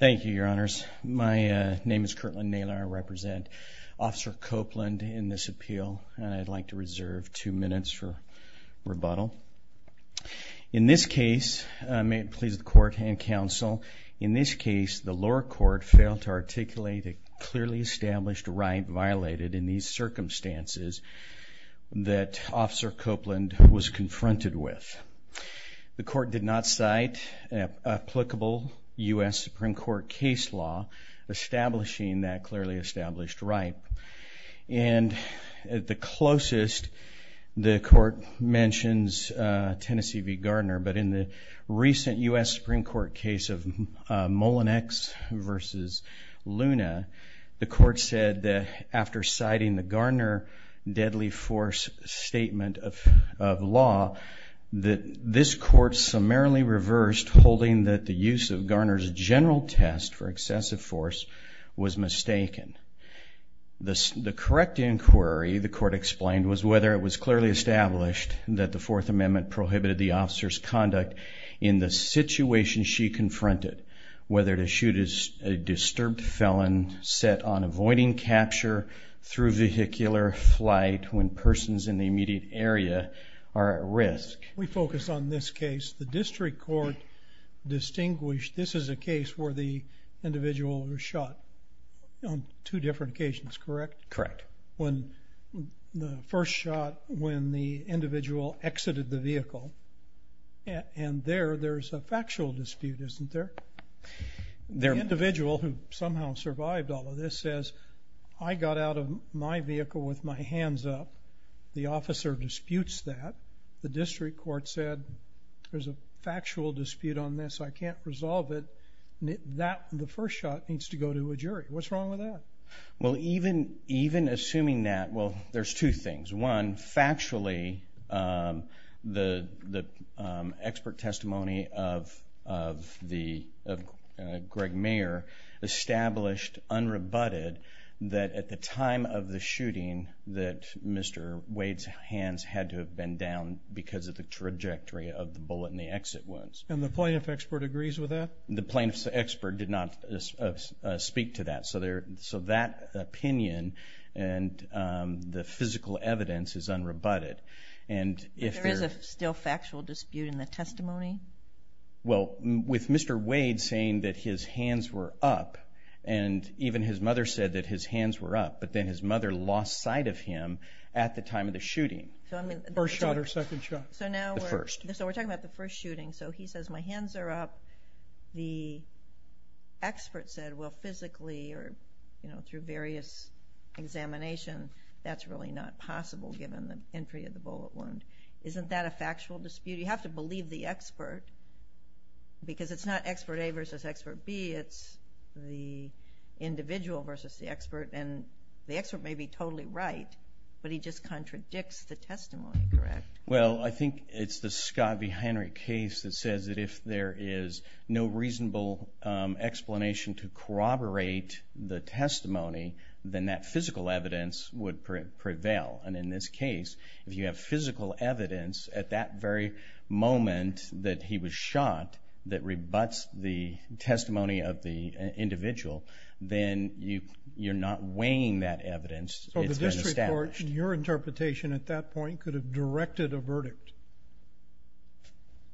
Thank you, Your Honors. My name is Kirtland Naylor. I represent Officer Copeland in this appeal and I'd like to reserve two minutes for rebuttal. In this case, may it please the court and counsel, in this case the lower court failed to articulate a clearly established right violated in these circumstances that Officer Copeland was confronted with. The U.S. Supreme Court case law establishing that clearly established right. And at the closest, the court mentions Tennessee v. Gardner, but in the recent U.S. Supreme Court case of Molinex v. Luna, the court said that after citing the Gardner deadly force statement of law, that this court summarily reversed holding that the use of Gardner's general test for excessive force was mistaken. The correct inquiry, the court explained, was whether it was clearly established that the Fourth Amendment prohibited the officer's conduct in the situation she confronted, whether to shoot a disturbed felon set on avoiding capture through vehicular flight when persons in the immediate area are at risk. We focus on this case. The district court distinguished this is a case where the individual was shot on two different occasions, correct? Correct. When the first shot, when the individual exited the vehicle, and there there's a factual dispute, isn't there? There So the individual who somehow survived all of this says, I got out of my vehicle with my hands up. The officer disputes that. The district court said, there's a factual dispute on this. I can't resolve it. That, the first shot, needs to go to a jury. What's wrong with that? Well, even assuming that, well, there's two things. One, factually, the expert testimony of the, of Greg Mayer, established, unrebutted, that at the time of the shooting, that Mr. Wade's hands had to have been down because of the trajectory of the bullet in the exit wounds. And the plaintiff expert agrees with that? The plaintiff's expert did not speak to that. So that opinion, and the physical evidence, is unrebutted. There is a still factual dispute in the testimony? Well, with Mr. Wade saying that his hands were up, and even his mother said that his hands were up, but then his mother lost sight of him at the time of the shooting. First shot or second shot? The first. So we're talking about the first shooting. So he says, my hands are up. The expert said, well, physically, or through various examination, that's really not possible given the entry of the bullet wound. Isn't that a factual dispute? You have to believe the expert, because it's not expert A versus expert B. It's the individual versus the expert. And the expert may be totally right, but he just contradicts the testimony, correct? Well, I think it's the Scott v. Henry case that says that if there is no reasonable explanation to corroborate the testimony, then that physical evidence would prevail. And in this case, if you have physical evidence at that very moment that he was shot that rebuts the testimony of the individual, then you're not weighing that evidence. It's been established. So the district court, in your interpretation at that point, could have directed a verdict?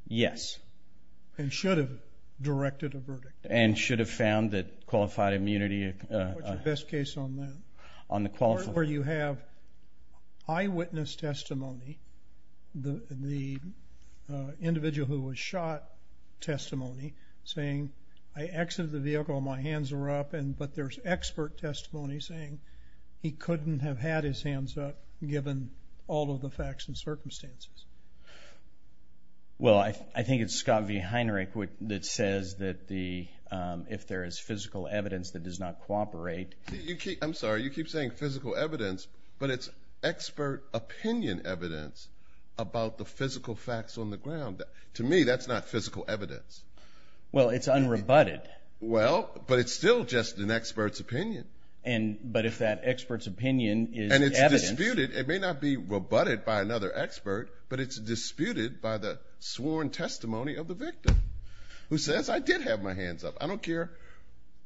Yes. And should have directed a verdict? And should have found that qualified immunity... What's your best case on that? On the qualified... Where you have eyewitness testimony, the individual who was shot testimony, saying, I exited the vehicle and my hands were up, but there's expert testimony saying he couldn't have had his hands up given all of the facts and circumstances. Well, I think it's Scott v. Henry that says that if there is physical evidence that does not cooperate... I'm sorry. You keep saying physical evidence, but it's expert opinion evidence about the physical facts on the ground. To me, that's not physical evidence. Well, it's unrebutted. Well, but it's still just an expert's opinion. But if that expert's opinion is evidence... And it's disputed. It may not be rebutted by another expert, but it's disputed by the sworn testimony of the victim who says, I did have my hands up. I don't care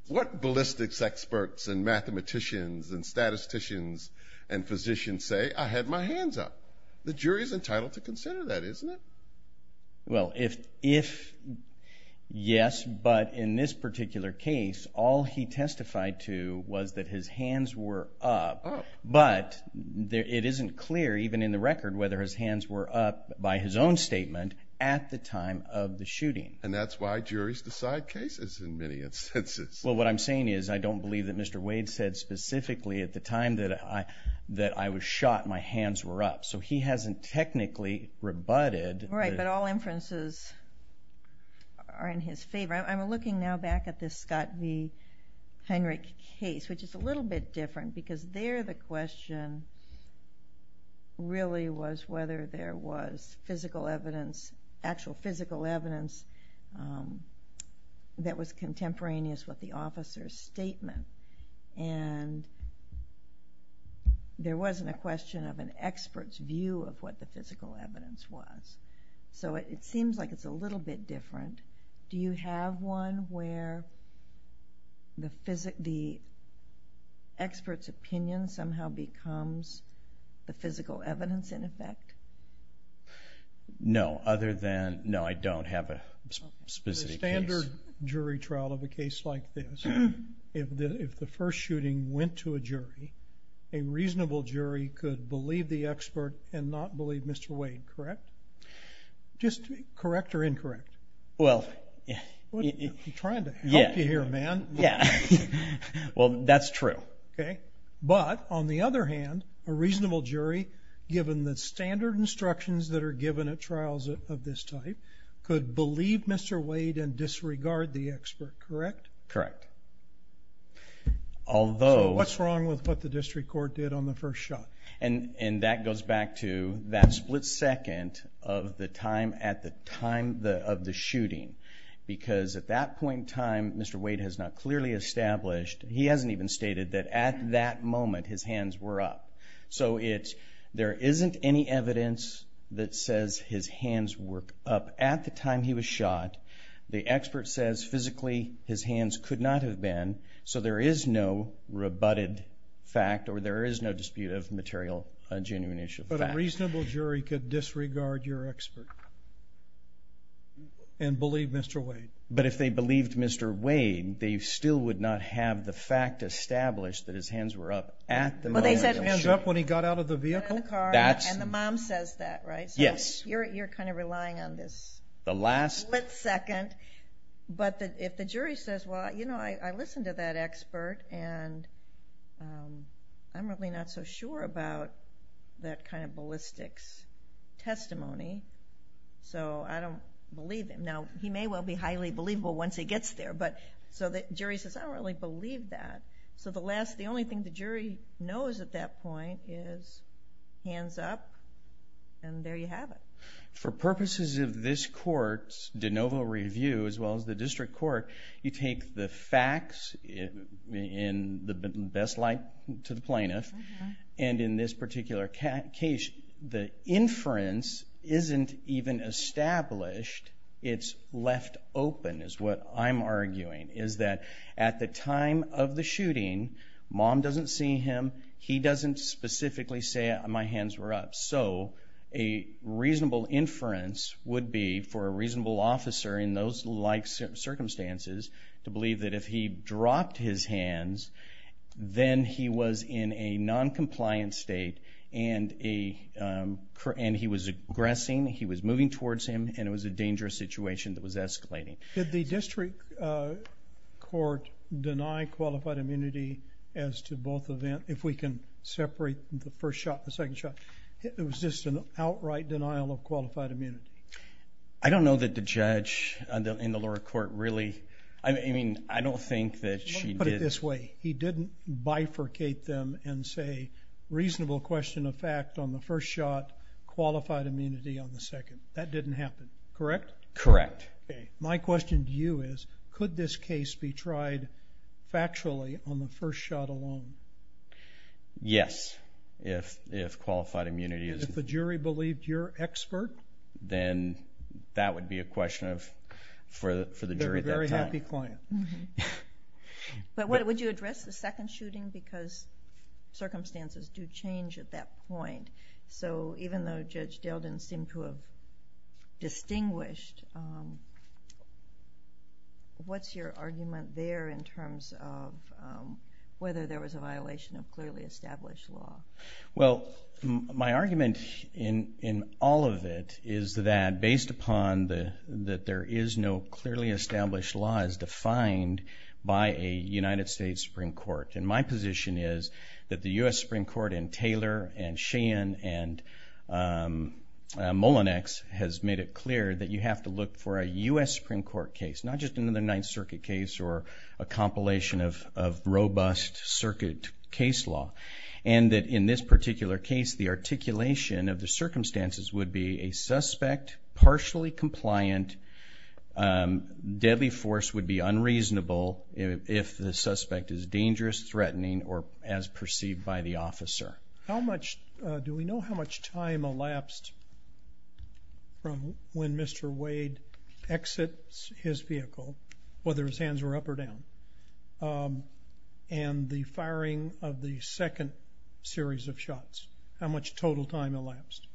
what ballistics experts and mathematicians and statisticians and physicians say. I had my hands up. The jury's entitled to consider that, isn't it? Well, if yes, but in this particular case, all he testified to was that his hands were up, but it isn't clear, even in the record, whether his hands were up by his own statement at the time of the shooting. And that's why juries decide cases in many instances. Well, what I'm saying is, I don't believe that Mr. Wade said specifically at the time that I was shot, my hands were up. So he hasn't technically rebutted... Right, but all inferences are in his favor. I'm looking now back at this Scott v. Heinrich case, which is a little bit different, because there the question really was whether there was actual physical evidence that was contemporaneous with the officer's statement. And there wasn't a question of an expert's view of what the physical evidence was. So it seems like it's a little bit different. Do you have one where the expert's opinion somehow becomes the physical evidence in effect? No, other than, no, I don't have a specific case. In a standard jury trial of a case like this, if the first shooting went to a jury, a reasonable jury could believe the expert and not believe Mr. Wade, correct? Just correct or incorrect? Well... I'm trying to help you here, man. Yeah, well, that's true. But, on the other hand, a reasonable jury, given the standard instructions that are given at trials of this type, could believe Mr. Wade and disregard the expert, correct? Correct. Although... So what's wrong with what the district court did on the first shot? And that goes back to that split second of the time at the time of the shooting. Because at that point in time, Mr. Wade has not clearly established, he hasn't even stated, that at that moment his hands were up. So it's, there isn't any evidence that says his hands were up at the time he was shot. The expert says physically his hands could not have been. So there is no rebutted fact, or there is no dispute of material, genuine issue. But a reasonable jury could disregard your expert and believe Mr. Wade? But if they believed Mr. Wade, they still would not have the fact established that his hands were up at the moment of the shooting. Well, they said his hands were up when he got out of the vehicle? And the mom says that, right? Yes. So you're kind of relying on this split second. But if the jury says, well, you know, I listened to that expert, and I'm really not so sure about that kind of ballistics testimony, so I don't believe him. Now, he may well be highly believable once he gets there. But so the jury says, I don't really believe that. So the last, the only thing the jury knows at that point is, hands up, and there you have it. For purposes of this court's de novo review, as well as the district court, you take the facts in the best light to the plaintiff. And in this particular case, the inference isn't even established. It's left open, is what I'm arguing, is that at the time of the shooting, mom doesn't see him. He doesn't specifically say, my hands were up. So a reasonable inference would be, for a reasonable officer in those like circumstances, to believe that if he dropped his hands, then he was in a noncompliant state, and he was aggressing, he was moving towards him, and it was a dangerous situation that was escalating. Did the district court deny qualified immunity as to both events? If we can separate the first shot and the second shot. It was just an outright denial of qualified immunity. I don't know that the judge in the lower court really, I mean, I don't think that she did. Let me put it this way. He didn't bifurcate them and say, reasonable question of fact on the first shot, qualified immunity on the second. That didn't happen, correct? Correct. My question to you is, could this case be tried factually on the first shot alone? Yes, if qualified immunity is. If the jury believed you're expert? Then that would be a question for the jury at that time. They're a very happy client. But would you address the second shooting? Because circumstances do change at that point. Even though Judge Delden seemed to have distinguished, what's your argument there in terms of whether there was a violation of clearly established law? Well, my argument in all of it is that, based upon that there is no clearly established law as defined by a United States Supreme Court, and my position is that the U.S. Supreme Court and Taylor and Sheehan and Mullinex has made it clear that you have to look for a U.S. Supreme Court case, not just another Ninth Circuit case or a compilation of robust circuit case law, and that in this particular case the articulation of the circumstances would be a suspect, partially compliant, deadly force would be unreasonable if the suspect is dangerous, threatening, or as perceived by the officer. How much, do we know how much time elapsed from when Mr. Wade exits his vehicle, whether his hands were up or down, and the firing of the second series of shots? How much total time elapsed?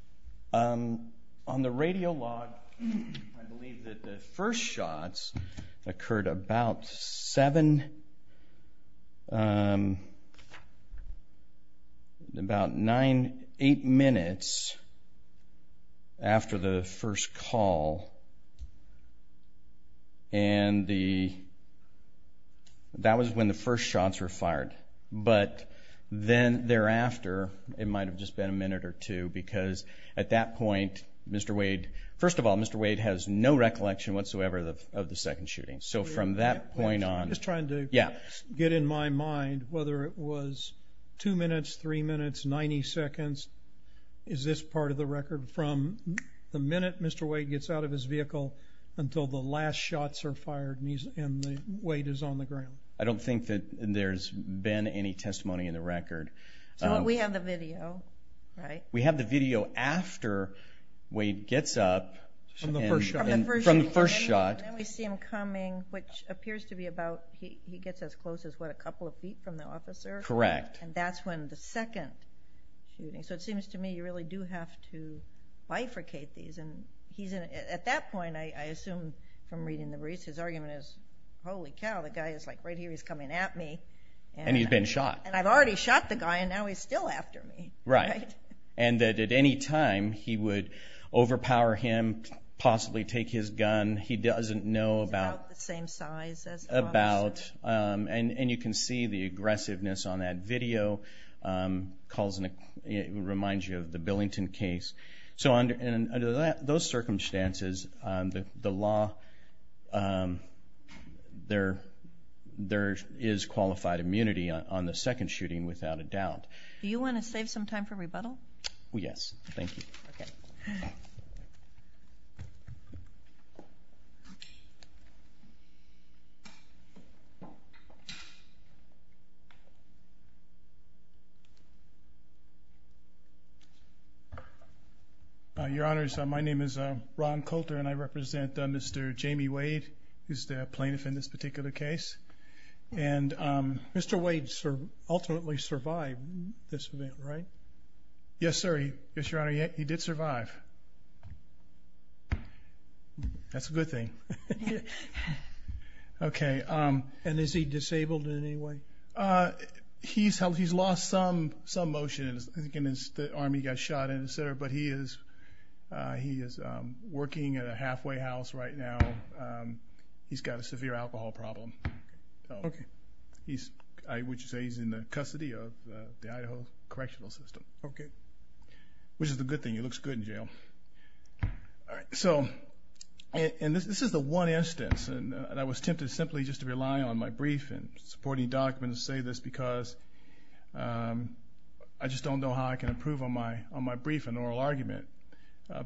On the radio log, I believe that the first shots occurred about seven, about nine, eight minutes after the first call, and that was when the first shots were fired, but then thereafter it might have just been a minute or two because at that point Mr. Wade, first of all, Mr. Wade has no recollection whatsoever of the second shooting, so from that point on. I'm just trying to get in my mind whether it was two minutes, three minutes, 90 seconds. Is this part of the record from the minute Mr. Wade gets out of his vehicle until the last shots are fired and Wade is on the ground? I don't think that there's been any testimony in the record. So we have the video, right? We have the video after Wade gets up from the first shot. Then we see him coming, which appears to be about, he gets as close as what, a couple of feet from the officer? Correct. And that's when the second shooting, so it seems to me you really do have to bifurcate these, and at that point I assume from reading the briefs his argument is, holy cow, the guy is like right here, he's coming at me. And he's been shot. And I've already shot the guy and now he's still after me. Right. And that at any time he would overpower him, possibly take his gun. He doesn't know about. About the same size as the officer. And you can see the aggressiveness on that video. It reminds you of the Billington case. So under those circumstances, the law, there is qualified immunity on the second shooting without a doubt. Do you want to save some time for rebuttal? Yes. Thank you. Your Honors, my name is Ron Coulter, and I represent Mr. Jamie Wade, who's the plaintiff in this particular case. And Mr. Wade ultimately survived this event, right? Yes, sir. Yes, Your Honor, he did survive. That's a good thing. Okay. And is he disabled in any way? He's lost some motion. I think in his arm he got shot and et cetera, but he is working at a halfway house right now. He's got a severe alcohol problem. Okay. I would say he's in the custody of the Idaho Correctional System. Okay. Which is a good thing. He looks good in jail. So this is the one instance, and I was tempted simply just to rely on my brief and supporting documents and say this because I just don't know how I can improve on my brief and oral argument.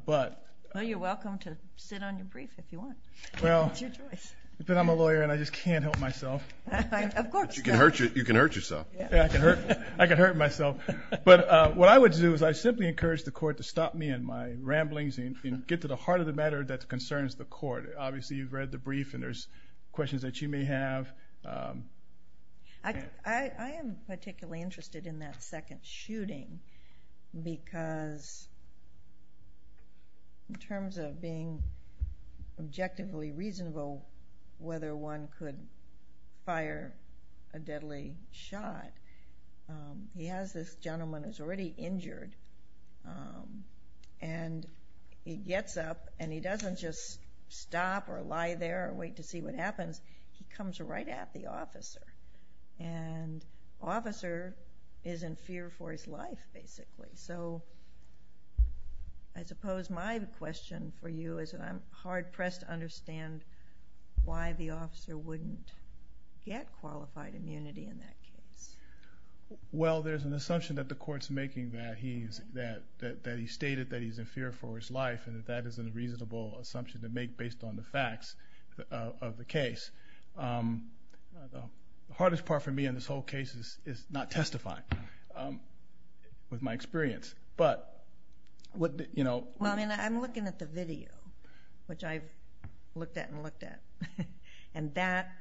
Well, you're welcome to sit on your brief if you want. It's your choice. Well, I'm a lawyer and I just can't help myself. Of course. You can hurt yourself. I can hurt myself. But what I would do is I simply encourage the court to stop me in my ramblings and get to the heart of the matter that concerns the court. Obviously you've read the brief and there's questions that you may have. I am particularly interested in that second shooting because in terms of being objectively reasonable whether one could fire a deadly shot, he has this gentleman who's already injured, and he gets up and he doesn't just stop or lie there and wait to see what happens. He comes right at the officer, and the officer is in fear for his life basically. So I suppose my question for you is that I'm hard-pressed to understand why the officer wouldn't get qualified immunity in that case. Well, there's an assumption that the court's making that he's stated that he's in fear for his life, and that that is a reasonable assumption to make based on the facts of the case. The hardest part for me in this whole case is not testifying with my experience. I'm looking at the video, which I've looked at and looked at, and that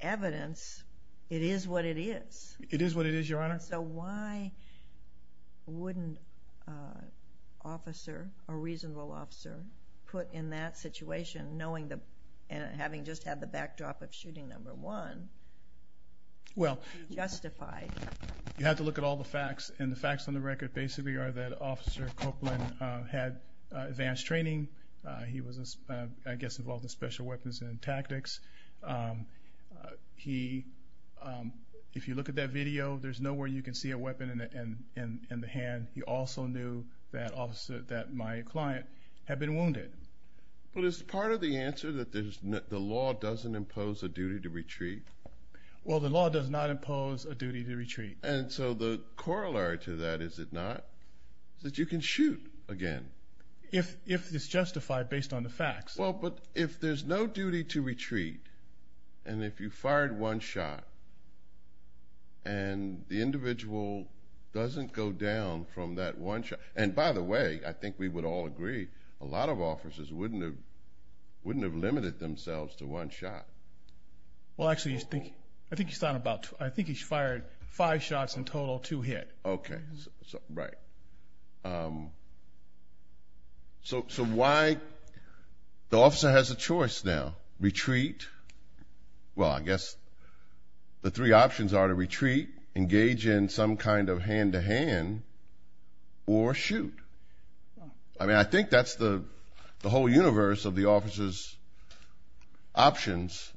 evidence, it is what it is. It is what it is, Your Honor. So why wouldn't an officer, a reasonable officer, put in that situation, knowing that having just had the backdrop of shooting number one, justified? You have to look at all the facts, and the facts on the record basically are that Officer Copeland had advanced training. He was, I guess, involved in special weapons and tactics. If you look at that video, there's no way you can see a weapon in the hand. He also knew that my client had been wounded. Well, is part of the answer that the law doesn't impose a duty to retreat? Well, the law does not impose a duty to retreat. And so the corollary to that, is it not, that you can shoot again? If it's justified based on the facts. Well, but if there's no duty to retreat, and if you fired one shot, and the individual doesn't go down from that one shot, and by the way, I think we would all agree, a lot of officers wouldn't have limited themselves to one shot. Well, actually, I think he's fired five shots in total, two hit. Okay. Right. So why, the officer has a choice now. Retreat, well, I guess the three options are to retreat, engage in some kind of hand-to-hand, or shoot. I mean, I think that's the whole universe of the officer's options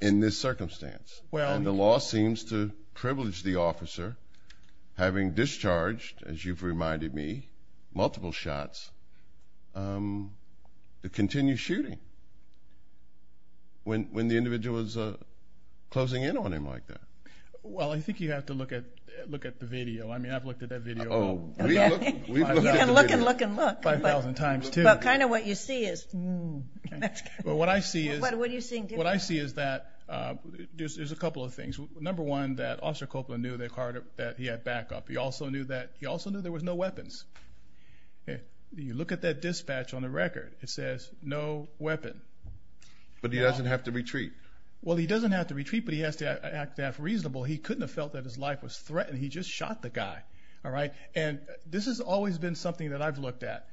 in this circumstance. And the law seems to privilege the officer, having discharged, as you've reminded me, multiple shots, to continue shooting when the individual is closing in on him like that. Well, I think you have to look at the video. I mean, I've looked at that video. Oh. You can look and look and look. 5,000 times, too. But kind of what you see is. But what I see is. What are you seeing different? What I see is that there's a couple of things. Number one, that Officer Copeland knew that he had backup. He also knew that there was no weapons. You look at that dispatch on the record. It says, no weapon. But he doesn't have to retreat. Well, he doesn't have to retreat, but he has to act reasonable. He couldn't have felt that his life was threatened. He just shot the guy. And this has always been something that I've looked at.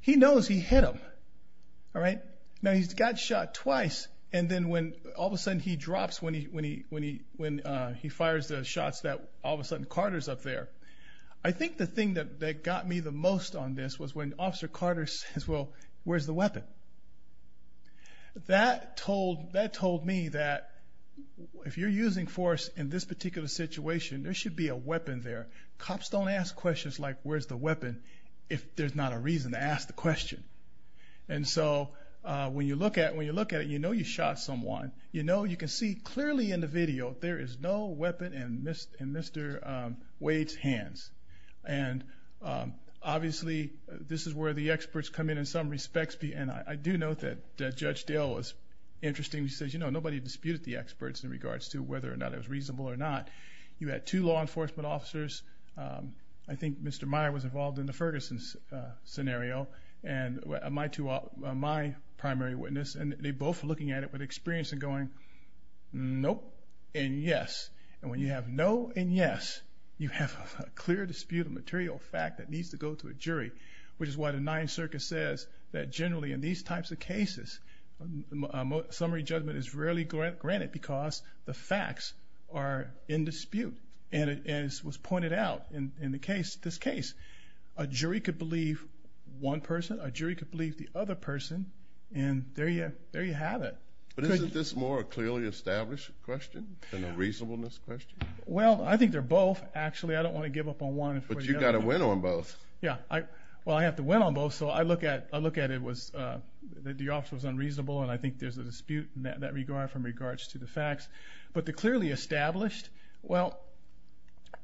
He knows he hit him. All right. Now, he's got shot twice. And then when all of a sudden he drops when he fires the shots, all of a sudden Carter's up there. I think the thing that got me the most on this was when Officer Carter says, well, where's the weapon? That told me that if you're using force in this particular situation, there should be a weapon there. Cops don't ask questions like, where's the weapon, if there's not a reason to ask the question. And so when you look at it, you know you shot someone. You know you can see clearly in the video there is no weapon in Mr. Wade's hands. And obviously this is where the experts come in in some respects. And I do note that Judge Dale was interesting. He says, you know, nobody disputed the experts in regards to whether or not it was reasonable or not. You had two law enforcement officers. I think Mr. Meyer was involved in the Ferguson scenario. And my primary witness. And they both were looking at it with experience and going, nope and yes. And when you have no and yes, you have a clear dispute of material fact that needs to go to a jury, which is why the Ninth Circuit says that generally in these types of cases, summary judgment is rarely granted because the facts are in dispute. And as was pointed out in this case, a jury could believe one person. A jury could believe the other person. And there you have it. But isn't this more a clearly established question than a reasonableness question? Well, I think they're both. Actually, I don't want to give up on one. But you've got to win on both. Yeah. Well, I have to win on both. So I look at it was that the officer was unreasonable, and I think there's a dispute in that regard from regards to the facts. But the clearly established, well,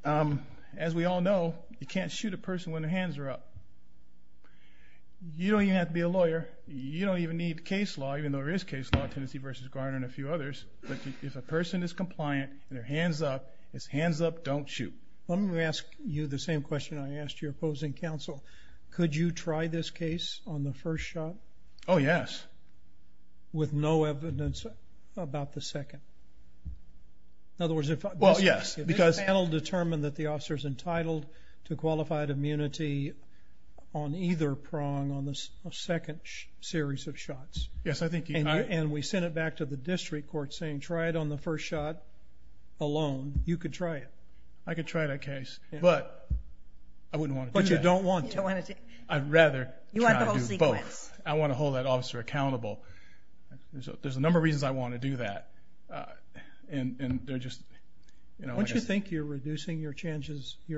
as we all know, you can't shoot a person when their hands are up. You don't even have to be a lawyer. You don't even need case law, even though there is case law, Tennessee v. Gardner and a few others. But if a person is compliant and their hand's up, it's hands up, don't shoot. Let me ask you the same question I asked your opposing counsel. Could you try this case on the first shot? Oh, yes. With no evidence about the second? In other words, if I'm just asking. Well, yes. Because that will determine that the officer is entitled to qualified immunity on either prong on the second series of shots. Yes, I think you are. And we sent it back to the district court saying try it on the first shot alone. You could try it. I could try that case. But I wouldn't want to do that. But you don't want to. I'd rather try to do both. You want the whole sequence. I want to hold that officer accountable. There's a number of reasons I want to do that. Don't you think you're reducing your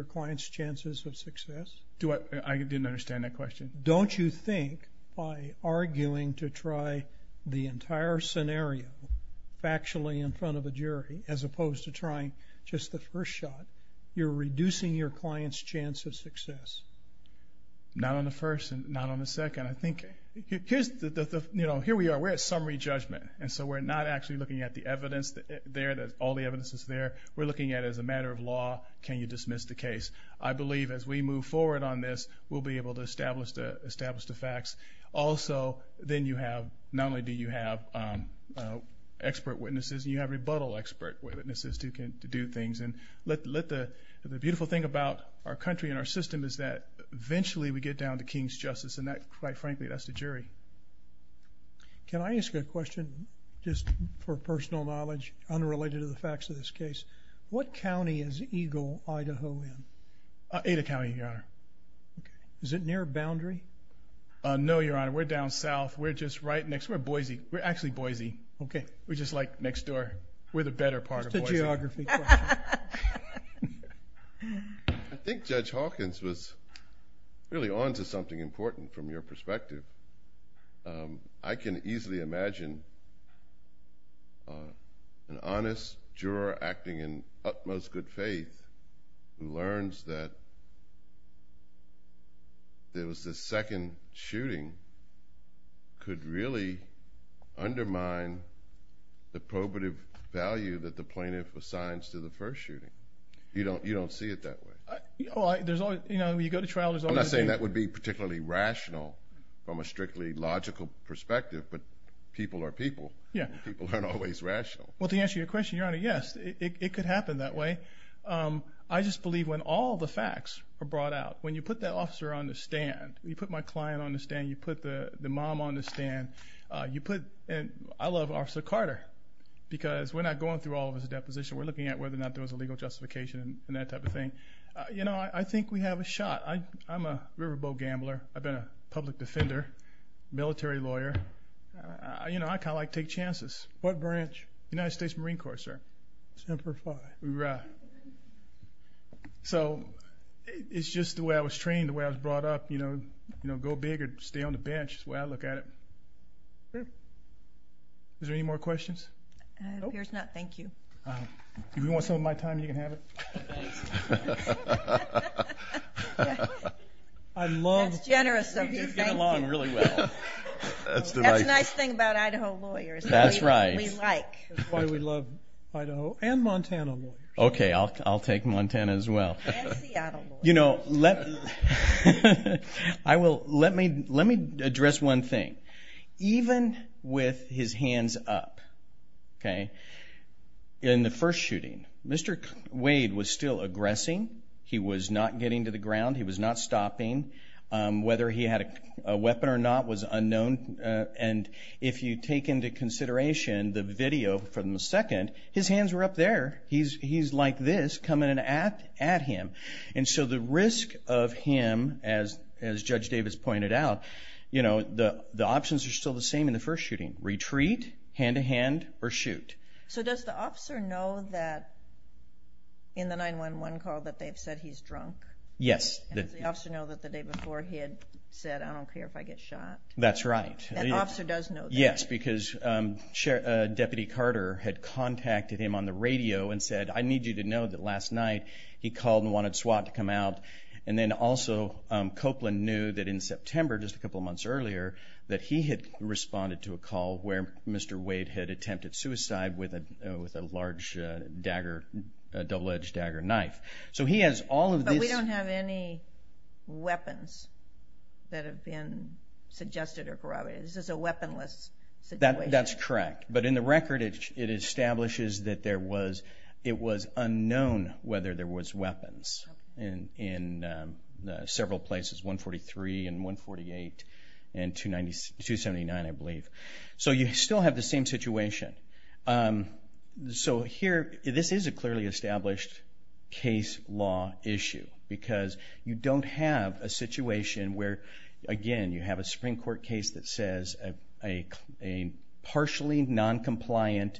client's chances of success? I didn't understand that question. Don't you think by arguing to try the entire scenario factually in front of a jury, as opposed to trying just the first shot, you're reducing your client's chance of success? Not on the first and not on the second. Here we are. We're at summary judgment. And so we're not actually looking at the evidence there, all the evidence that's there. We're looking at it as a matter of law. Can you dismiss the case? I believe as we move forward on this, we'll be able to establish the facts. Also, then you have not only do you have expert witnesses, you have rebuttal expert witnesses to do things. And the beautiful thing about our country and our system is that eventually we get down to king's justice. And quite frankly, that's the jury. Can I ask a question just for personal knowledge unrelated to the facts of this case? What county is Eagle, Idaho in? Ada County, Your Honor. Is it near a boundary? No, Your Honor. We're down south. We're just right next to Boise. We're actually Boise. We're just like next door. We're the better part of Boise. It's the geography. I think Judge Hawkins was really on to something important from your perspective. I can easily imagine an honest juror acting in utmost good faith who learns that there was this second shooting could really undermine the probative value that the plaintiff assigns to the first shooting. You don't see it that way. You know, you go to trial. I'm not saying that would be particularly rational from a strictly logical perspective, but people are people. People aren't always rational. Well, to answer your question, Your Honor, yes, it could happen that way. I just believe when all the facts are brought out, when you put that officer on the stand, you put my client on the stand, you put the mom on the stand, I love Officer Carter because we're not going through all of his depositions. We're looking at whether or not there was a legal justification and that type of thing. You know, I think we have a shot. I'm a riverboat gambler. I've been a public defender, military lawyer. You know, I kind of like to take chances. What branch? United States Marine Corps, sir. Semper Fi. Right. So it's just the way I was trained, the way I was brought up. You know, go big or stay on the bench is the way I look at it. Is there any more questions? No, there's not. Thank you. If you want some of my time, you can have it. That's generous of you. Get along really well. That's the nice thing about Idaho lawyers. That's right. We like. That's why we love Idaho and Montana lawyers. Okay, I'll take Montana as well. And Seattle lawyers. You know, let me address one thing. Even with his hands up, okay, in the first shooting, Mr. Wade was still aggressing. He was not getting to the ground. He was not stopping. Whether he had a weapon or not was unknown. And if you take into consideration the video from the second, his hands were up there. He's like this coming at him. And so the risk of him, as Judge Davis pointed out, you know, the options are still the same in the first shooting. Retreat, hand-to-hand, or shoot. So does the officer know that in the 911 call that they've said he's drunk? Yes. Does the officer know that the day before he had said, I don't care if I get shot? That's right. That officer does know that. Yes, because Deputy Carter had contacted him on the radio and said, I need you to know that last night he called and wanted SWAT to come out. And then also Copeland knew that in September, just a couple of months earlier, that he had responded to a call where Mr. Wade had attempted suicide with a large double-edged dagger knife. But we don't have any weapons that have been suggested or corroborated. This is a weaponless situation. That's correct. But in the record, it establishes that it was unknown whether there was weapons in several places, 143 and 148 and 279, I believe. So you still have the same situation. So here, this is a clearly established case law issue, because you don't have a situation where, again, you have a Supreme Court case that says a partially noncompliant,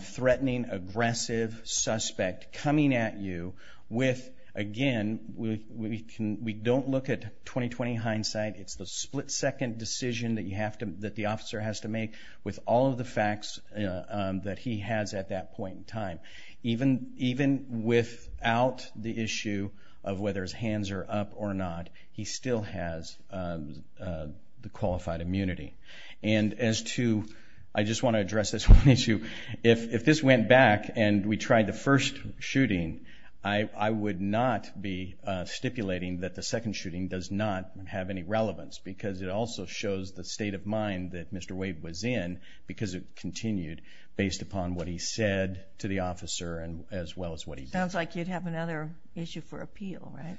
threatening, aggressive suspect coming at you with, again, we don't look at 20-20 hindsight. It's the split-second decision that the officer has to make with all of the facts that he has at that point in time. Even without the issue of whether his hands are up or not, he still has the qualified immunity. And as to, I just want to address this one issue, if this went back and we tried the first shooting, I would not be stipulating that the second shooting does not have any relevance, because it also shows the state of mind that Mr. Wade was in, because it continued based upon what he said to the officer as well as what he did. Sounds like you'd have another issue for appeal, right?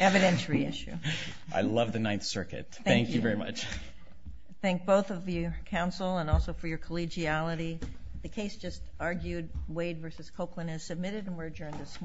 Evidentiary issue. I love the Ninth Circuit. Thank you very much. Thank both of you, counsel, and also for your collegiality. The case just argued, Wade v. Copeland, is submitted and we're adjourned this morning.